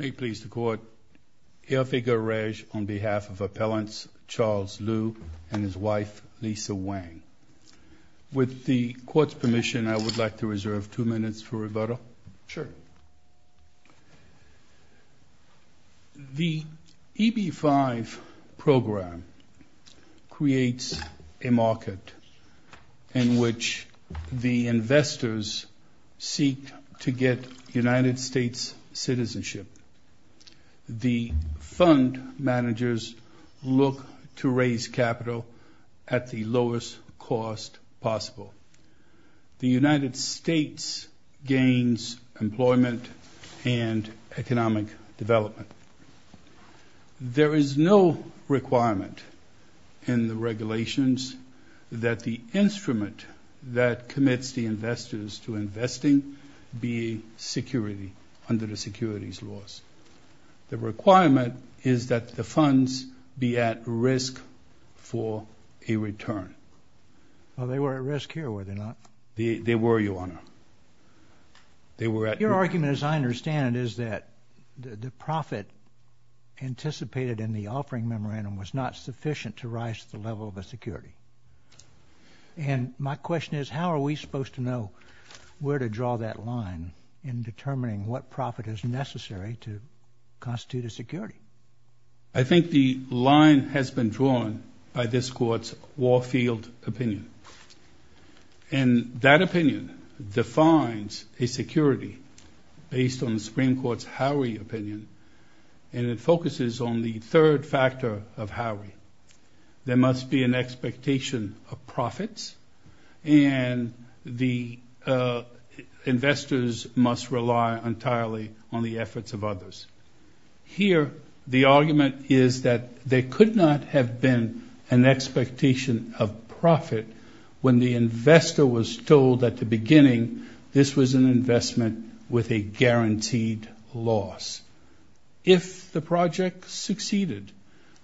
May it please the Court, Elphiga Regé on behalf of Appellants Charles Liu and his wife Lisa Wang. With the Court's permission, I would like to reserve two minutes for rebuttal. Sure. The EB-5 program creates a market in which the investors seek to get United States citizenship. The fund managers look to raise capital at the lowest cost possible. The United States gains employment and economic development. There is no requirement in the regulations that the instrument that commits the investors to investing be security under the securities laws. The requirement is that the funds be at risk for a return. Well, they were at risk here, were they not? They were, Your Honor. Your argument, as I understand it, is that the profit anticipated in the offering memorandum was not sufficient to rise to the level of a security. And my question is, how are we supposed to know where to draw that line in determining what profit is necessary to constitute a security? I think the line has been drawn by this Court's Warfield opinion. And that opinion defines a security based on the Supreme Court's Howery opinion, and it focuses on the third factor of Howery. There must be an expectation of profits, and the investors must rely entirely on the efforts of others. Here, the argument is that there could not have been an expectation of profit when the investor was told at the beginning this was an investment with a guaranteed loss. If the project succeeded,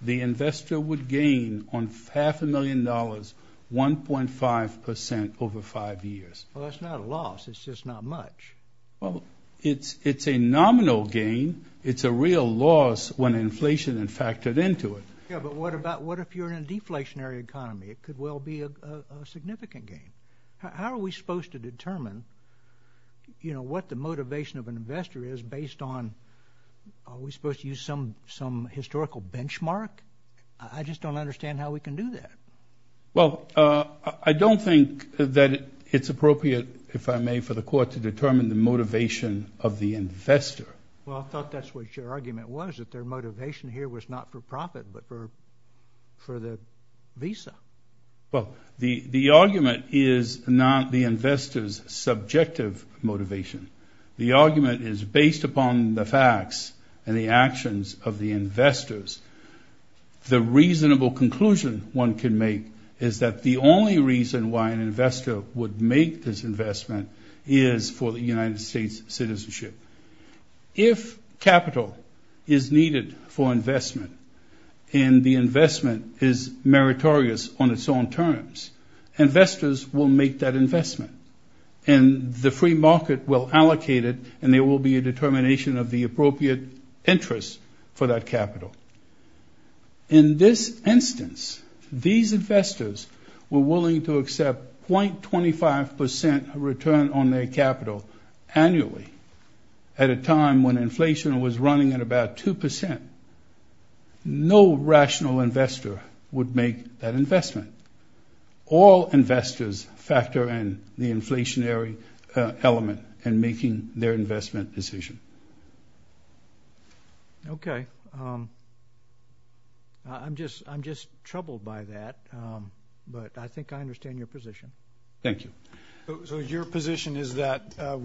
the investor would gain on half a million dollars 1.5 percent over five years. Well, that's not a loss. It's just not much. Well, it's a nominal gain. It's a real loss when inflation is factored into it. Yeah, but what about what if you're in a deflationary economy? It could well be a significant gain. How are we supposed to determine, you know, what the motivation of an investor is based on are we supposed to use some historical benchmark? I just don't understand how we can do that. Well, I don't think that it's appropriate, if I may, for the court to determine the motivation of the investor. Well, I thought that's what your argument was, that their motivation here was not for profit but for the visa. Well, the argument is not the investor's subjective motivation. The argument is based upon the facts and the actions of the investors. The reasonable conclusion one can make is that the only reason why an investor would make this investment is for the United States' citizenship. If capital is needed for investment and the investment is meritorious on its own terms, investors will make that investment and the free market will allocate it and there will be a determination of the appropriate interest for that capital. In this instance, these investors were willing to accept 0.25% return on their capital annually at a time when inflation was running at about 2%. No rational investor would make that investment. All investors factor in the inflationary element in making their investment decision. Okay. I'm just troubled by that, but I think I understand your position. Thank you. So your position is that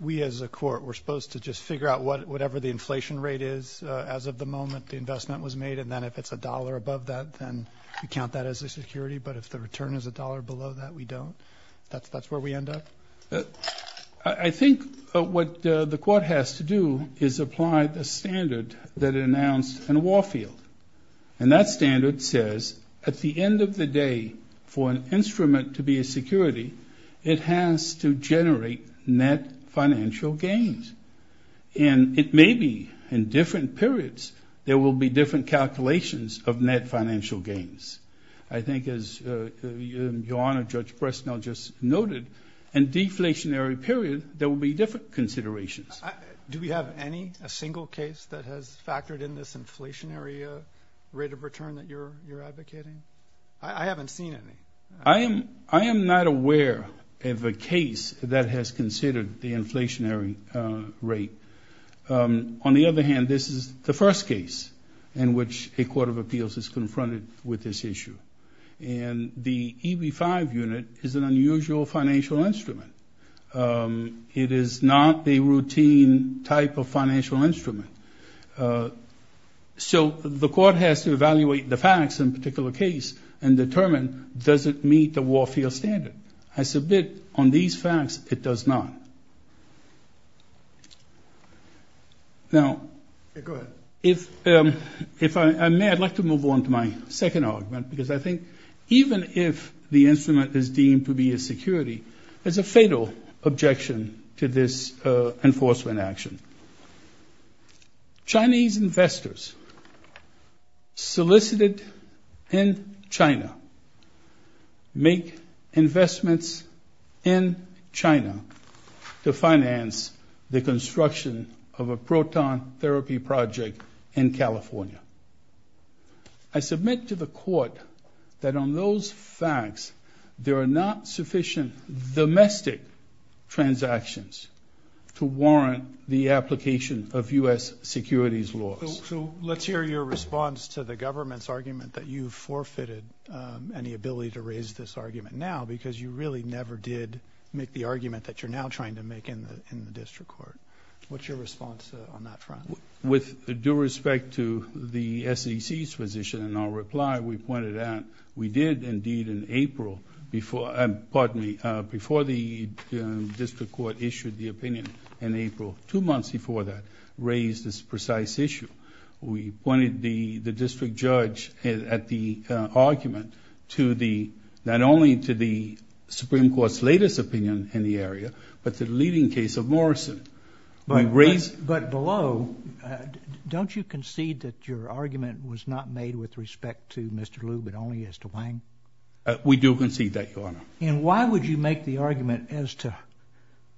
we as a court, we're supposed to just figure out whatever the inflation rate is as of the moment the investment was made, and then if it's $1 above that, then we count that as a security, but if the return is $1 below that, we don't? That's where we end up? I think what the court has to do is apply the standard that it announced in Warfield. And that standard says at the end of the day, for an instrument to be a security, it has to generate net financial gains. And it may be in different periods there will be different calculations of net financial gains. I think as your Honor, Judge Bresnell just noted, in deflationary period there will be different considerations. Do we have any, a single case that has factored in this inflationary rate of return that you're advocating? I haven't seen any. I am not aware of a case that has considered the inflationary rate. On the other hand, this is the first case in which a court of appeals is confronted with this issue. And the EB-5 unit is an unusual financial instrument. It is not the routine type of financial instrument. So the court has to evaluate the facts in a particular case and determine does it meet the Warfield standard. I submit on these facts, it does not. Now, if I may, I'd like to move on to my second argument, because I think even if the instrument is deemed to be a security, there's a fatal objection to this enforcement action. Chinese investors solicited in China make investments in China to finance the construction of a proton therapy project in California. I submit to the court that on those facts, there are not sufficient domestic transactions to warrant the application of U.S. securities laws. So let's hear your response to the government's argument that you forfeited any ability to raise this argument now, because you really never did make the argument that you're now trying to make in the district court. What's your response on that front? With due respect to the SEC's position and our reply, we pointed out we did indeed in April, pardon me, before the district court issued the opinion in April, two months before that, raise this precise issue. We pointed the district judge at the argument not only to the Supreme Court's latest opinion in the area, but to the leading case of Morrison. But below, don't you concede that your argument was not made with respect to Mr. Liu but only as to Wang? We do concede that, Your Honor. And why would you make the argument as to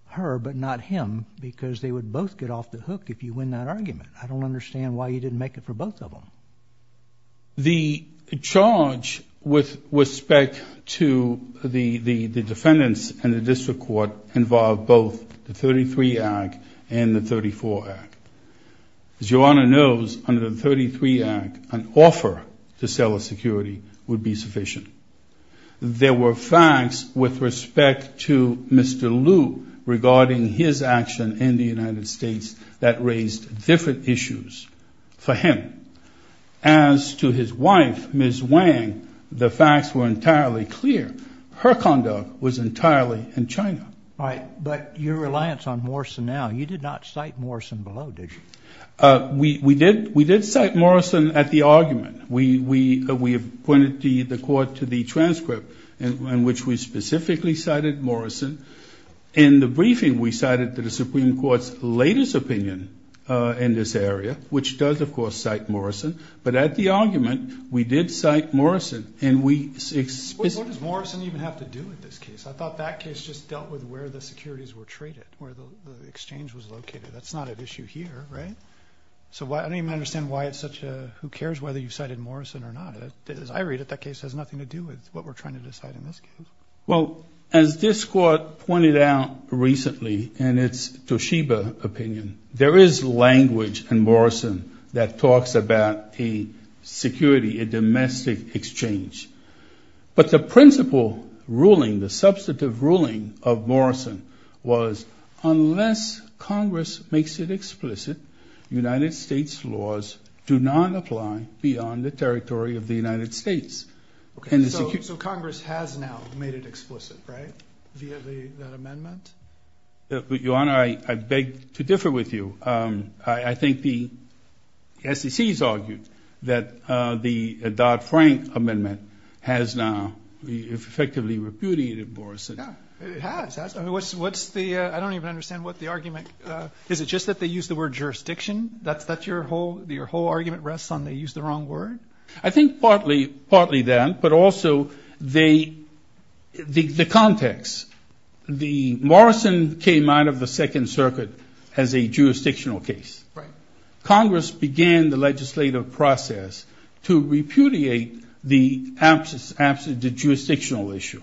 her but not him, because they would both get off the hook if you win that argument? I don't understand why you didn't make it for both of them. The charge with respect to the defendants in the district court involved both the 33 Act and the 34 Act. As Your Honor knows, under the 33 Act, an offer to sell a security would be sufficient. There were facts with respect to Mr. Liu regarding his action in the United States that raised different issues for him. As to his wife, Ms. Wang, the facts were entirely clear. Her conduct was entirely in China. Right. But your reliance on Morrison now, you did not cite Morrison below, did you? We did cite Morrison at the argument. We pointed the court to the transcript in which we specifically cited Morrison. In the briefing, we cited the Supreme Court's latest opinion in this area, which does, of course, cite Morrison. But at the argument, we did cite Morrison. What does Morrison even have to do with this case? I thought that case just dealt with where the securities were traded, where the exchange was located. That's not an issue here, right? So I don't even understand why it's such a who cares whether you cited Morrison or not. As I read it, that case has nothing to do with what we're trying to decide in this case. Well, as this court pointed out recently in its Toshiba opinion, there is language in Morrison that talks about a security, a domestic exchange. But the principle ruling, the substantive ruling of Morrison was, unless Congress makes it explicit, United States laws do not apply beyond the territory of the United States. So Congress has now made it explicit, right, via that amendment? Your Honor, I beg to differ with you. I think the SEC has argued that the Dodd-Frank amendment has now effectively repudiated Morrison. It has. I don't even understand what the argument is. Is it just that they used the word jurisdiction? Your whole argument rests on they used the wrong word? I think partly that, but also the context. Morrison came out of the Second Circuit as a jurisdictional case. Congress began the legislative process to repudiate the jurisdictional issue.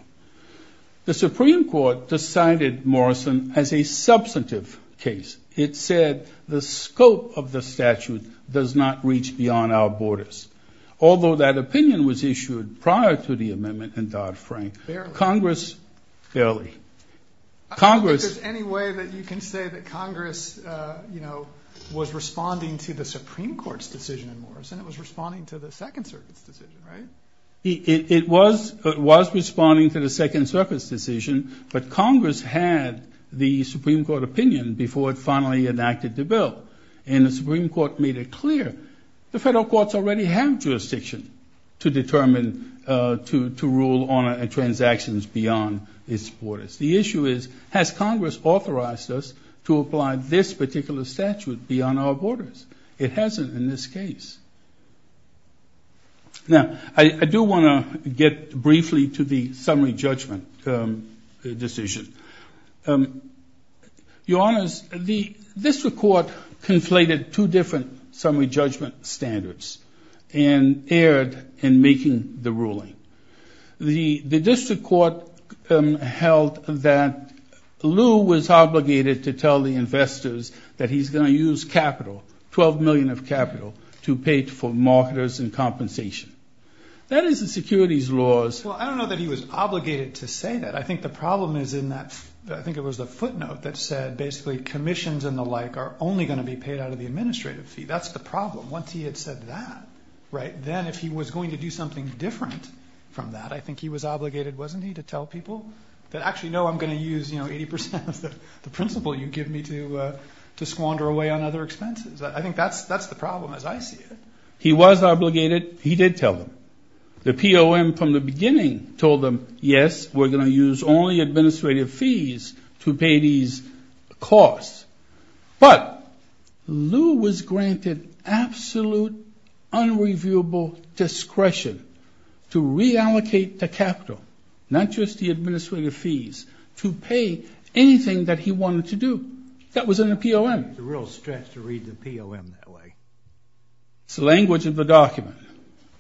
The Supreme Court decided Morrison as a substantive case. It said the scope of the statute does not reach beyond our borders. Although that opinion was issued prior to the amendment in Dodd-Frank. Barely. Congress, barely. I don't think there's any way that you can say that Congress, you know, was responding to the Supreme Court's decision in Morrison. It was responding to the Second Circuit's decision, right? It was responding to the Second Circuit's decision, but Congress had the Supreme Court opinion before it finally enacted the bill. And the Supreme Court made it clear the federal courts already have jurisdiction to determine, to rule on transactions beyond its borders. The issue is has Congress authorized us to apply this particular statute beyond our borders? It hasn't in this case. Now, I do want to get briefly to the summary judgment decision. Your Honors, the district court conflated two different summary judgment standards and erred in making the ruling. The district court held that Lew was obligated to tell the investors that he's going to use capital, $12 million of capital to pay for marketers and compensation. That is the securities laws. Well, I don't know that he was obligated to say that. I think the problem is in that, I think it was the footnote that said basically commissions and the like are only going to be paid out of the administrative fee. That's the problem. Once he had said that, right, then if he was going to do something different from that, I think he was obligated, wasn't he, to tell people that actually, no, I'm going to use, you know, 80% of the principal you give me to squander away on other expenses. I think that's the problem as I see it. He was obligated. He did tell them. The POM from the beginning told them, yes, we're going to use only administrative fees to pay these costs. But Lew was granted absolute unreviewable discretion to reallocate the capital, not just the administrative fees, to pay anything that he wanted to do. That was in the POM. It's a real stretch to read the POM that way. It's the language of the document.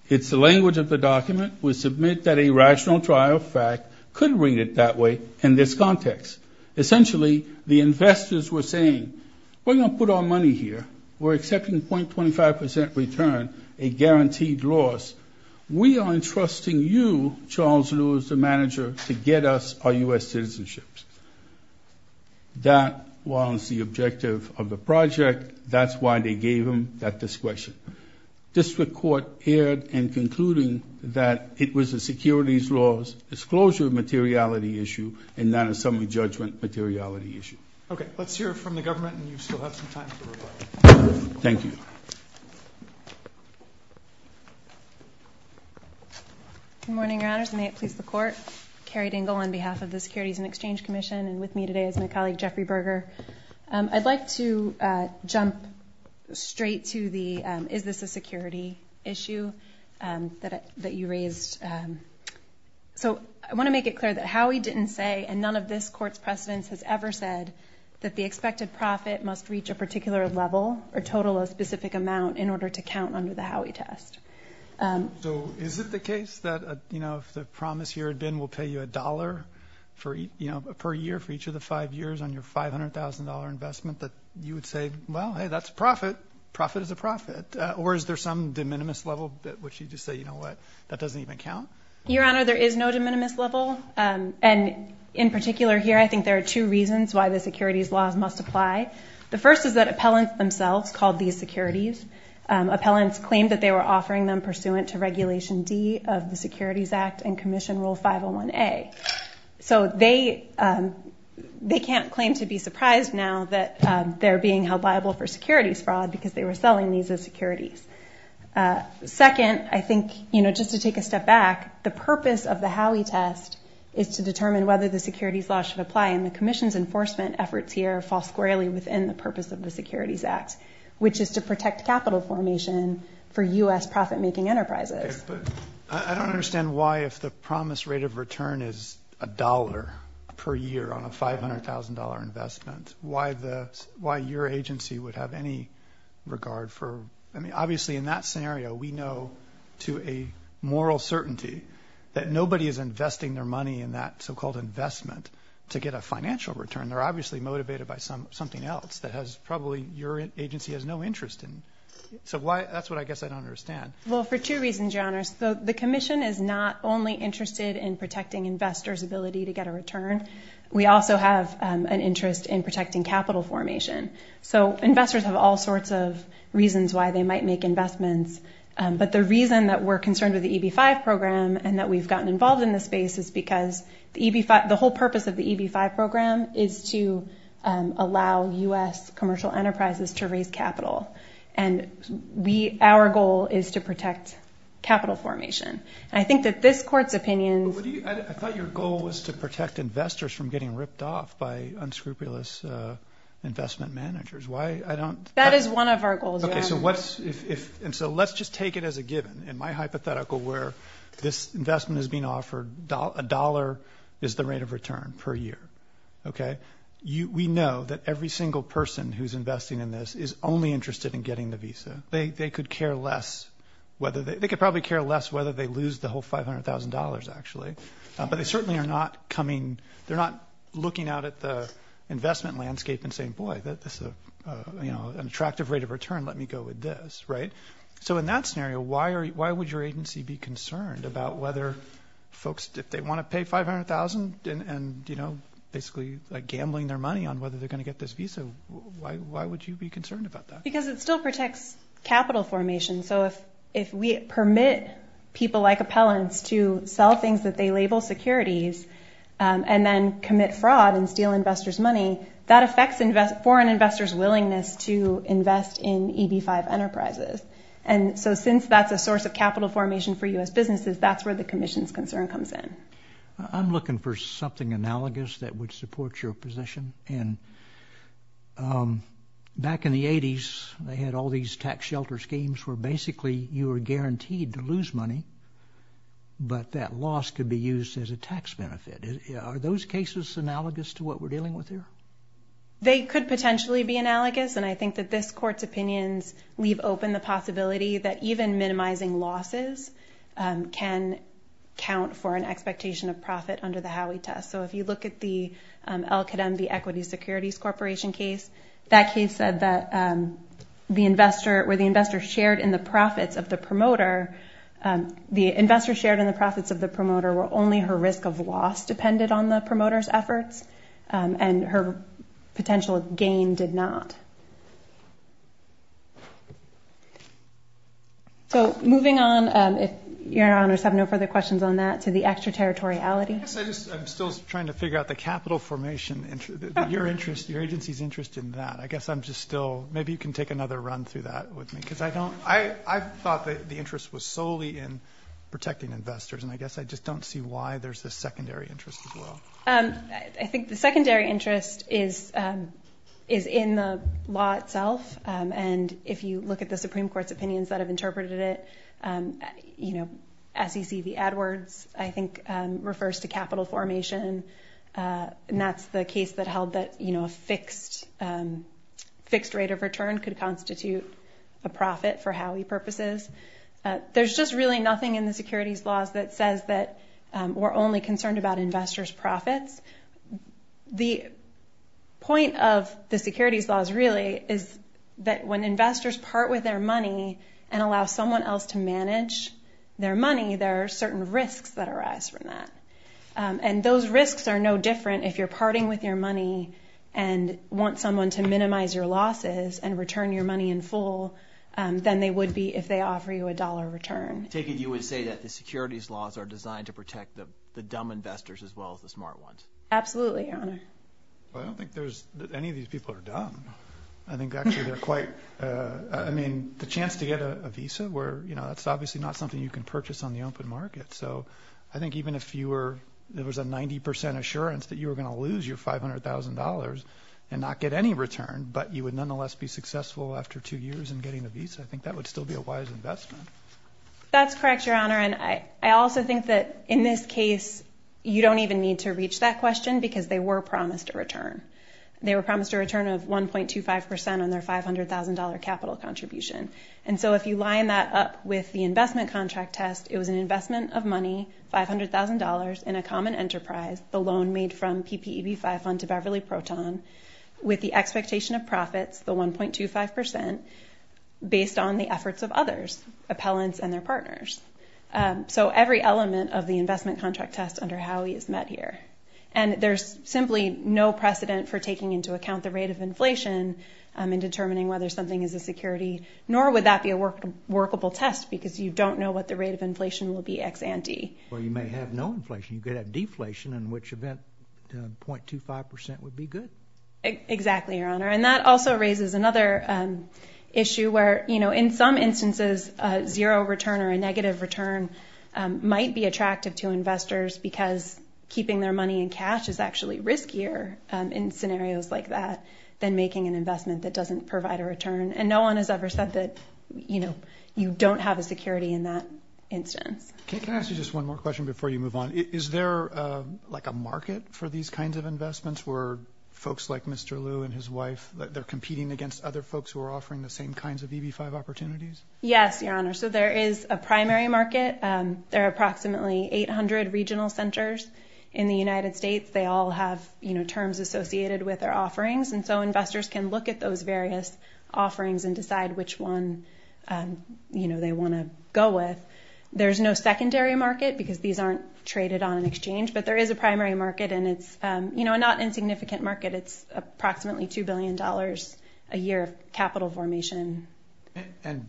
It's the language of the document. We submit that a rational trial fact could read it that way in this context. Essentially, the investors were saying, we're going to put our money here. We're accepting .25% return, a guaranteed loss. We are entrusting you, Charles Lew, as the manager, to get us our U.S. citizenships. That was the objective of the project. That's why they gave him that discretion. District Court erred in concluding that it was a securities laws disclosure materiality issue and not a summary judgment materiality issue. Okay. Let's hear from the government, and you still have some time to reply. Thank you. Good morning, Your Honors. May it please the Court. I'm Carrie Dingell on behalf of the Securities and Exchange Commission, and with me today is my colleague Jeffrey Berger. I'd like to jump straight to the is this a security issue that you raised. I want to make it clear that Howey didn't say, and none of this Court's precedence has ever said, that the expected profit must reach a particular level or total a specific amount in order to count under the Howey test. So is it the case that, you know, if the promise here had been we'll pay you a dollar per year for each of the five years on your $500,000 investment that you would say, well, hey, that's a profit. Profit is a profit. Or is there some de minimis level which you just say, you know what, that doesn't even count? Your Honor, there is no de minimis level, and in particular here I think there are two reasons why the securities laws must apply. The first is that appellants themselves called these securities. Appellants claimed that they were offering them pursuant to Regulation D of the Securities Act and Commission Rule 501A. So they can't claim to be surprised now that they're being held liable for securities fraud because they were selling these as securities. Second, I think, you know, just to take a step back, the purpose of the Howey test is to determine whether the securities law should apply, and the Commission's enforcement efforts here fall squarely within the purpose of the Securities Act, which is to protect capital formation for U.S. profit-making enterprises. But I don't understand why if the promised rate of return is $1 per year on a $500,000 investment, why your agency would have any regard for, I mean, obviously in that scenario we know to a moral certainty that nobody is investing their money in that so-called investment to get a financial return. They're obviously motivated by something else that probably your agency has no interest in. So that's what I guess I don't understand. Well, for two reasons, Your Honors. The Commission is not only interested in protecting investors' ability to get a return. We also have an interest in protecting capital formation. So investors have all sorts of reasons why they might make investments, but the reason that we're concerned with the EB-5 program and that we've gotten involved in this space is because the whole purpose of the EB-5 program is to allow U.S. commercial enterprises to raise capital. And our goal is to protect capital formation. And I think that this Court's opinion— I thought your goal was to protect investors from getting ripped off by unscrupulous investment managers. Why I don't— That is one of our goals, Your Honor. And so let's just take it as a given. In my hypothetical where this investment is being offered, a dollar is the rate of return per year. We know that every single person who's investing in this is only interested in getting the visa. They could care less whether they— they could probably care less whether they lose the whole $500,000 actually, but they certainly are not coming— they're not looking out at the investment landscape and saying, boy, that's an attractive rate of return. Let me go with this, right? So in that scenario, why would your agency be concerned about whether folks, if they want to pay $500,000 and basically gambling their money on whether they're going to get this visa, why would you be concerned about that? Because it still protects capital formation. So if we permit people like appellants to sell things that they label securities and then commit fraud and steal investors' money, that affects foreign investors' willingness to invest in EB-5 enterprises. And so since that's a source of capital formation for U.S. businesses, that's where the commission's concern comes in. I'm looking for something analogous that would support your position. And back in the 80s, they had all these tax shelter schemes where basically you were guaranteed to lose money, but that loss could be used as a tax benefit. Are those cases analogous to what we're dealing with here? They could potentially be analogous, and I think that this Court's opinions leave open the possibility that even minimizing losses can count for an expectation of profit under the Howey test. So if you look at the LKM, the Equity Securities Corporation case, that case said that where the investor shared in the profits of the promoter, the investor shared in the profits of the promoter where only her risk of loss depended on the promoter's efforts and her potential gain did not. So moving on, if Your Honors have no further questions on that, to the extraterritoriality. Yes, I'm still trying to figure out the capital formation. Your agency's interested in that. Maybe you can take another run through that with me. I thought that the interest was solely in protecting investors, and I guess I just don't see why there's a secondary interest as well. I think the secondary interest is in the law itself, and if you look at the Supreme Court's opinions that have interpreted it, SEC v. AdWords, I think, refers to capital formation, and that's the case that held that a fixed rate of return could constitute a profit for Howey purposes. There's just really nothing in the securities laws that says that we're only concerned about investors' profits. The point of the securities laws, really, is that when investors part with their money and allow someone else to manage their money, there are certain risks that arise from that, and those risks are no different if you're parting with your money and want someone to minimize your losses and return your money in full than they would be if they offer you a dollar return. Take it you would say that the securities laws are designed to protect the dumb investors as well as the smart ones. Absolutely, Your Honor. I don't think any of these people are dumb. I think actually they're quite— I mean, the chance to get a visa, that's obviously not something you can purchase on the open market, so I think even if there was a 90 percent assurance that you were going to lose your $500,000 and not get any return, but you would nonetheless be successful after two years in getting a visa, I think that would still be a wise investment. That's correct, Your Honor, and I also think that in this case you don't even need to reach that question because they were promised a return. They were promised a return of 1.25 percent on their $500,000 capital contribution, and so if you line that up with the investment contract test, it was an investment of money, $500,000, in a common enterprise, the loan made from PPEB-5 Fund to Beverly Proton, with the expectation of profits, the 1.25 percent, based on the efforts of others, appellants and their partners. So every element of the investment contract test under Howey is met here, and there's simply no precedent for taking into account the rate of inflation in determining whether something is a security, nor would that be a workable test because you don't know what the rate of inflation will be ex ante. Well, you may have no inflation. You could have deflation, in which event 0.25 percent would be good. Exactly, Your Honor, and that also raises another issue where in some instances a zero return or a negative return might be attractive to investors because keeping their money in cash is actually riskier in scenarios like that than making an investment that doesn't provide a return, and no one has ever said that you don't have a security in that instance. Can I ask you just one more question before you move on? Is there like a market for these kinds of investments where folks like Mr. Liu and his wife, they're competing against other folks who are offering the same kinds of EB-5 opportunities? Yes, Your Honor, so there is a primary market. There are approximately 800 regional centers in the United States. They all have terms associated with their offerings, and so investors can look at those various offerings and decide which one they want to go with. There's no secondary market because these aren't traded on an exchange, but there is a primary market, and it's not an insignificant market. It's approximately $2 billion a year of capital formation. And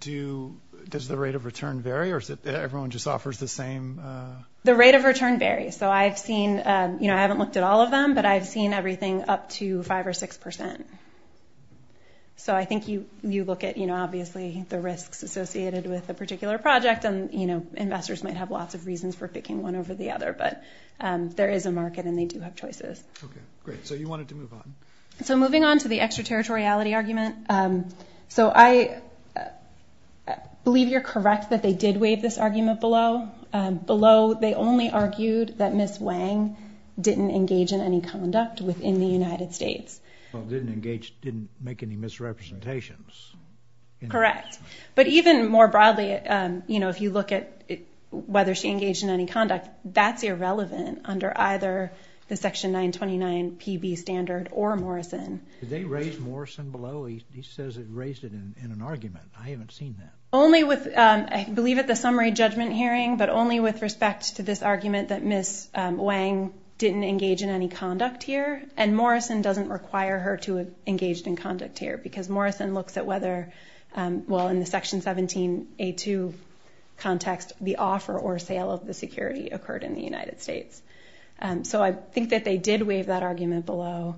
does the rate of return vary, or everyone just offers the same? The rate of return varies. So I've seen, you know, I haven't looked at all of them, but I've seen everything up to 5% or 6%. So I think you look at, you know, obviously the risks associated with a particular project, and, you know, investors might have lots of reasons for picking one over the other, but there is a market and they do have choices. Okay, great, so you wanted to move on. So moving on to the extraterritoriality argument, so I believe you're correct that they did waive this argument below. They only argued that Ms. Wang didn't engage in any conduct within the United States. Well, didn't engage, didn't make any misrepresentations. Correct, but even more broadly, you know, if you look at whether she engaged in any conduct, that's irrelevant under either the Section 929 PB standard or Morrison. Did they raise Morrison below? He says it raised it in an argument. I haven't seen that. Only with, I believe at the summary judgment hearing, but only with respect to this argument that Ms. Wang didn't engage in any conduct here, and Morrison doesn't require her to have engaged in conduct here because Morrison looks at whether, well, in the Section 17A2 context, the offer or sale of the security occurred in the United States. So I think that they did waive that argument below,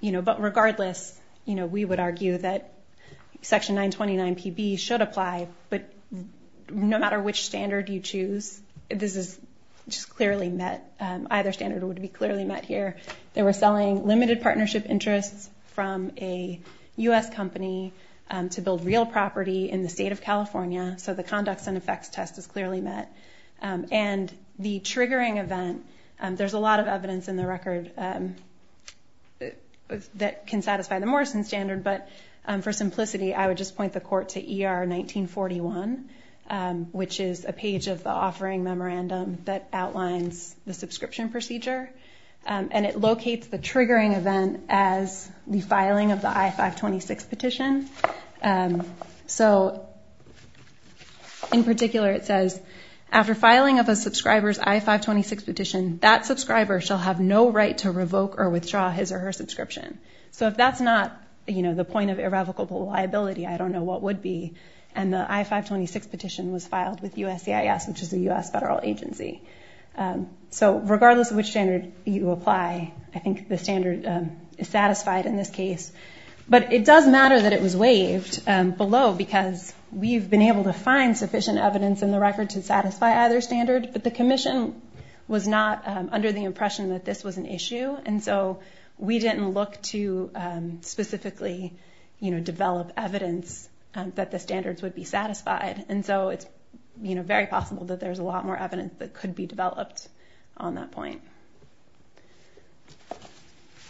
you know, but regardless, you know, we would argue that Section 929 PB should apply, but no matter which standard you choose, this is just clearly met. Either standard would be clearly met here. They were selling limited partnership interests from a U.S. company to build real property in the state of California, so the conducts and effects test is clearly met. And the triggering event, there's a lot of evidence in the record that can satisfy the Morrison standard, but for simplicity, I would just point the court to ER 1941, which is a page of the offering memorandum that outlines the subscription procedure, and it locates the triggering event as the filing of the I-526 petition. So in particular, it says, after filing of a subscriber's I-526 petition, that subscriber shall have no right to revoke or withdraw his or her subscription. So if that's not, you know, the point of irrevocable liability, I don't know what would be, and the I-526 petition was filed with USCIS, which is a U.S. federal agency. So regardless of which standard you apply, I think the standard is satisfied in this case. But it does matter that it was waived below because we've been able to find sufficient evidence in the record to satisfy either standard, but the commission was not under the impression that this was an issue, and so we didn't look to specifically, you know, develop evidence that the standards would be satisfied. And so it's, you know, very possible that there's a lot more evidence that could be developed on that point.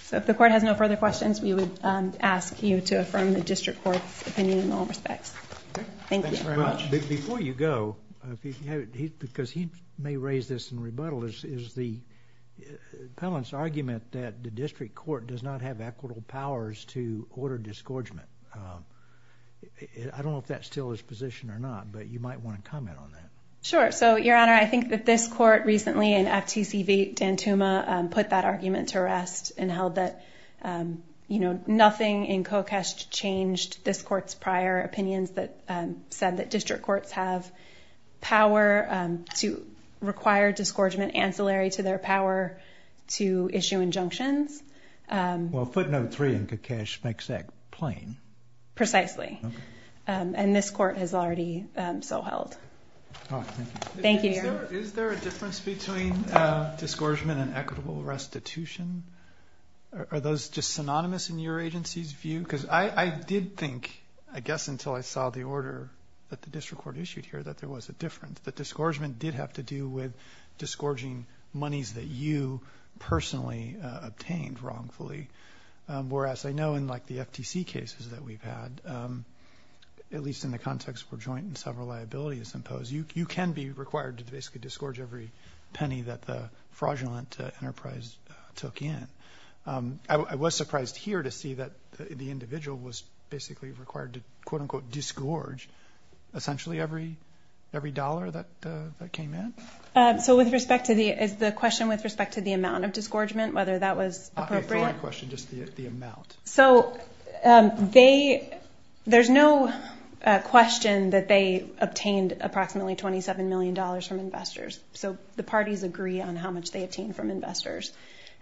So if the court has no further questions, we would ask you to affirm the district court's opinion in all respects. Thank you. Thanks very much. Before you go, because he may raise this in rebuttal, is the appellant's argument that the district court does not have equitable powers to order disgorgement. I don't know if that still is positioned or not, but you might want to comment on that. Sure. So, Your Honor, I think that this court recently, in FTC v. Dantuma, put that argument to rest and held that, you know, nothing in COCESH changed this court's prior opinions that said that district courts have power to require disgorgement ancillary to their power to issue injunctions. Well, footnote three in COCESH makes that plain. Precisely. Okay. And this court has already so held. All right. Thank you. Thank you, Your Honor. Is there a difference between disgorgement and equitable restitution? Are those just synonymous in your agency's view? Because I did think, I guess until I saw the order that the district court issued here, that there was a difference, that disgorgement did have to do with disgorging monies that you personally obtained wrongfully. Whereas I know in, like, the FTC cases that we've had, at least in the context where joint and several liabilities impose, you can be required to basically disgorge every penny that the fraudulent enterprise took in. I was surprised here to see that the individual was basically required to, quote, unquote, disgorge essentially every dollar that came in. So with respect to the, is the question with respect to the amount of disgorgement, whether that was appropriate? I'll answer your question, just the amount. So they, there's no question that they obtained approximately $27 million from investors. So the parties agree on how much they obtained from investors.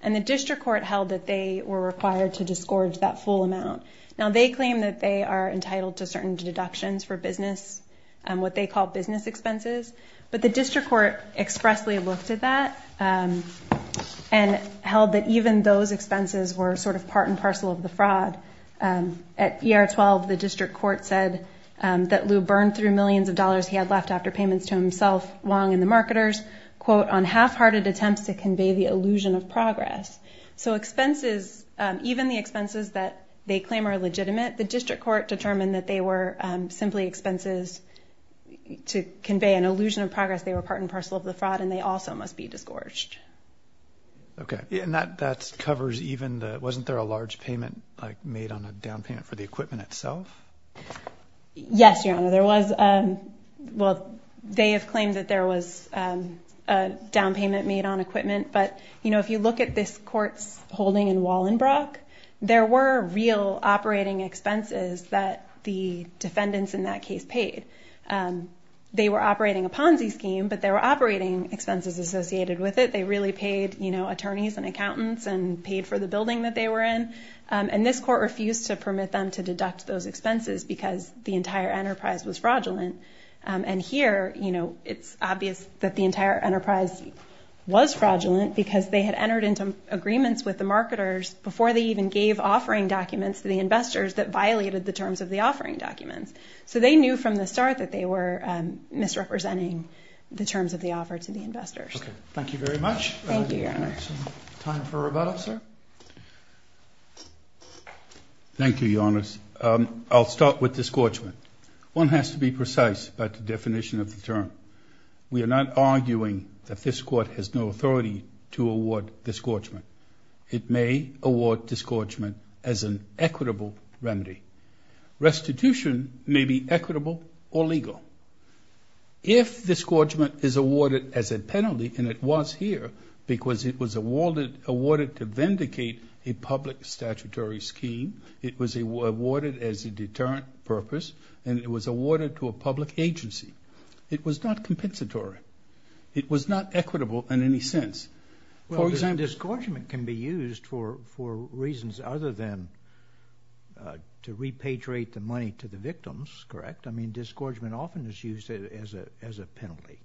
And the district court held that they were required to disgorge that full amount. Now they claim that they are entitled to certain deductions for business, what they call business expenses. But the district court expressly looked at that and held that even those expenses were sort of part and parcel of the fraud. At ER-12, the district court said that Lou burned through millions of dollars he had left after payments to himself, Wong, and the marketers, So expenses, even the expenses that they claim are legitimate, the district court determined that they were simply expenses to convey an illusion of progress. They were part and parcel of the fraud, and they also must be disgorged. Okay. And that covers even the, wasn't there a large payment, like, made on a down payment for the equipment itself? Yes, Your Honor, there was. Well, they have claimed that there was a down payment made on equipment. But, you know, if you look at this court's holding in Wallenbrock, there were real operating expenses that the defendants in that case paid. They were operating a Ponzi scheme, but they were operating expenses associated with it. They really paid, you know, attorneys and accountants and paid for the building that they were in. And this court refused to permit them to deduct those expenses because the entire enterprise was fraudulent. And here, you know, it's obvious that the entire enterprise was fraudulent because they had entered into agreements with the marketers before they even gave offering documents to the investors that violated the terms of the offering documents. So they knew from the start that they were misrepresenting the terms of the offer to the investors. Okay. Thank you very much. Thank you, Your Honor. Time for rebuttal, sir. Thank you, Your Honors. I'll start with disgorgement. One has to be precise about the definition of the term. We are not arguing that this court has no authority to award disgorgement. It may award disgorgement as an equitable remedy. Restitution may be equitable or legal. If disgorgement is awarded as a penalty, and it was here because it was awarded to vindicate a public statutory scheme, it was awarded as a deterrent purpose, and it was awarded to a public agency, it was not compensatory. It was not equitable in any sense. Well, disgorgement can be used for reasons other than to repatriate the money to the victims, correct? I mean, disgorgement often is used as a penalty.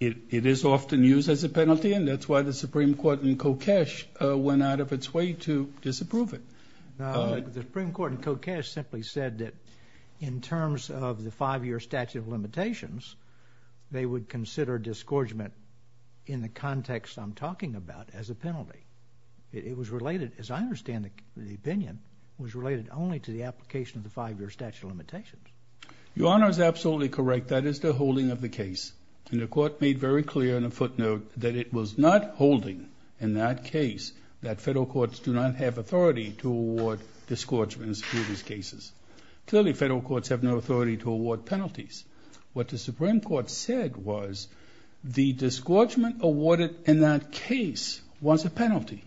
It is often used as a penalty, and that's why the Supreme Court in Kokesh went out of its way to disapprove it. The Supreme Court in Kokesh simply said that, in terms of the five-year statute of limitations, they would consider disgorgement in the context I'm talking about as a penalty. It was related, as I understand the opinion, was related only to the application of the five-year statute of limitations. Your Honor is absolutely correct. That is the holding of the case, and the Court made very clear in a footnote that it was not holding in that case that federal courts do not have authority to award disgorgements in these cases. Clearly, federal courts have no authority to award penalties. What the Supreme Court said was the disgorgement awarded in that case was a penalty.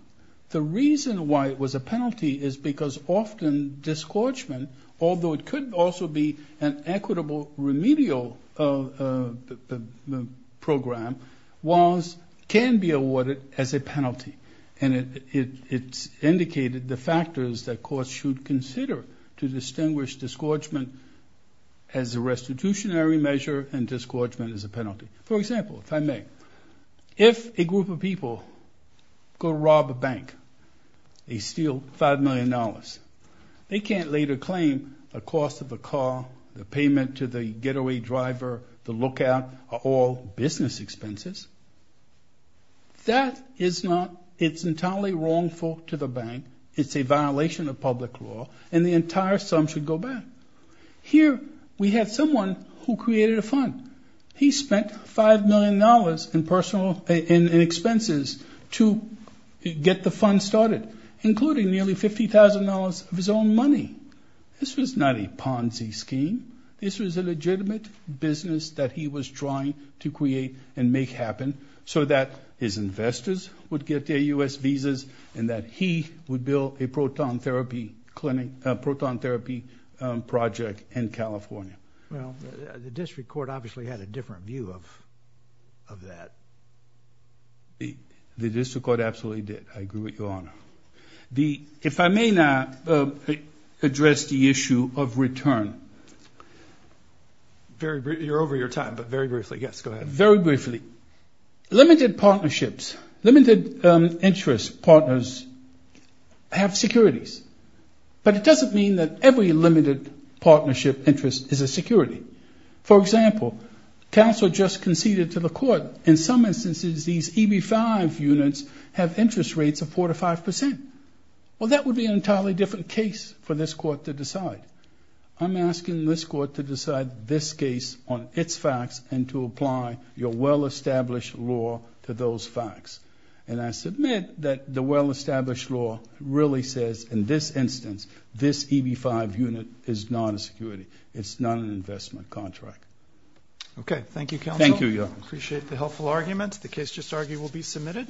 The reason why it was a penalty is because often disgorgement, although it could also be an equitable remedial program, can be awarded as a penalty, and it indicated the factors that courts should consider to distinguish disgorgement as a restitutionary measure and disgorgement as a penalty. For example, if I may, if a group of people go rob a bank, they steal $5 million, they can't later claim the cost of a car, the payment to the getaway driver, the lookout, or all business expenses. That is not, it's entirely wrongful to the bank. It's a violation of public law, and the entire sum should go back. Here we have someone who created a fund. He spent $5 million in expenses to get the fund started, including nearly $50,000 of his own money. This was not a Ponzi scheme. This was a legitimate business that he was trying to create and make happen so that his investors would get their U.S. visas and that he would build a proton therapy project in California. Well, the district court obviously had a different view of that. The district court absolutely did. I agree with you, Your Honor. If I may now address the issue of return. You're over your time, but very briefly. Yes, go ahead. Very briefly. Limited partnerships, limited interest partners have securities, but it doesn't mean that every limited partnership interest is a security. For example, counsel just conceded to the court, in some instances these EB-5 units have interest rates of 4% to 5%. Well, that would be an entirely different case for this court to decide. I'm asking this court to decide this case on its facts and to apply your well-established law to those facts. And I submit that the well-established law really says, in this instance, this EB-5 unit is not a security. It's not an investment contract. Okay. Thank you, counsel. Thank you, Your Honor. I appreciate the helpful arguments. The case just argued will be submitted.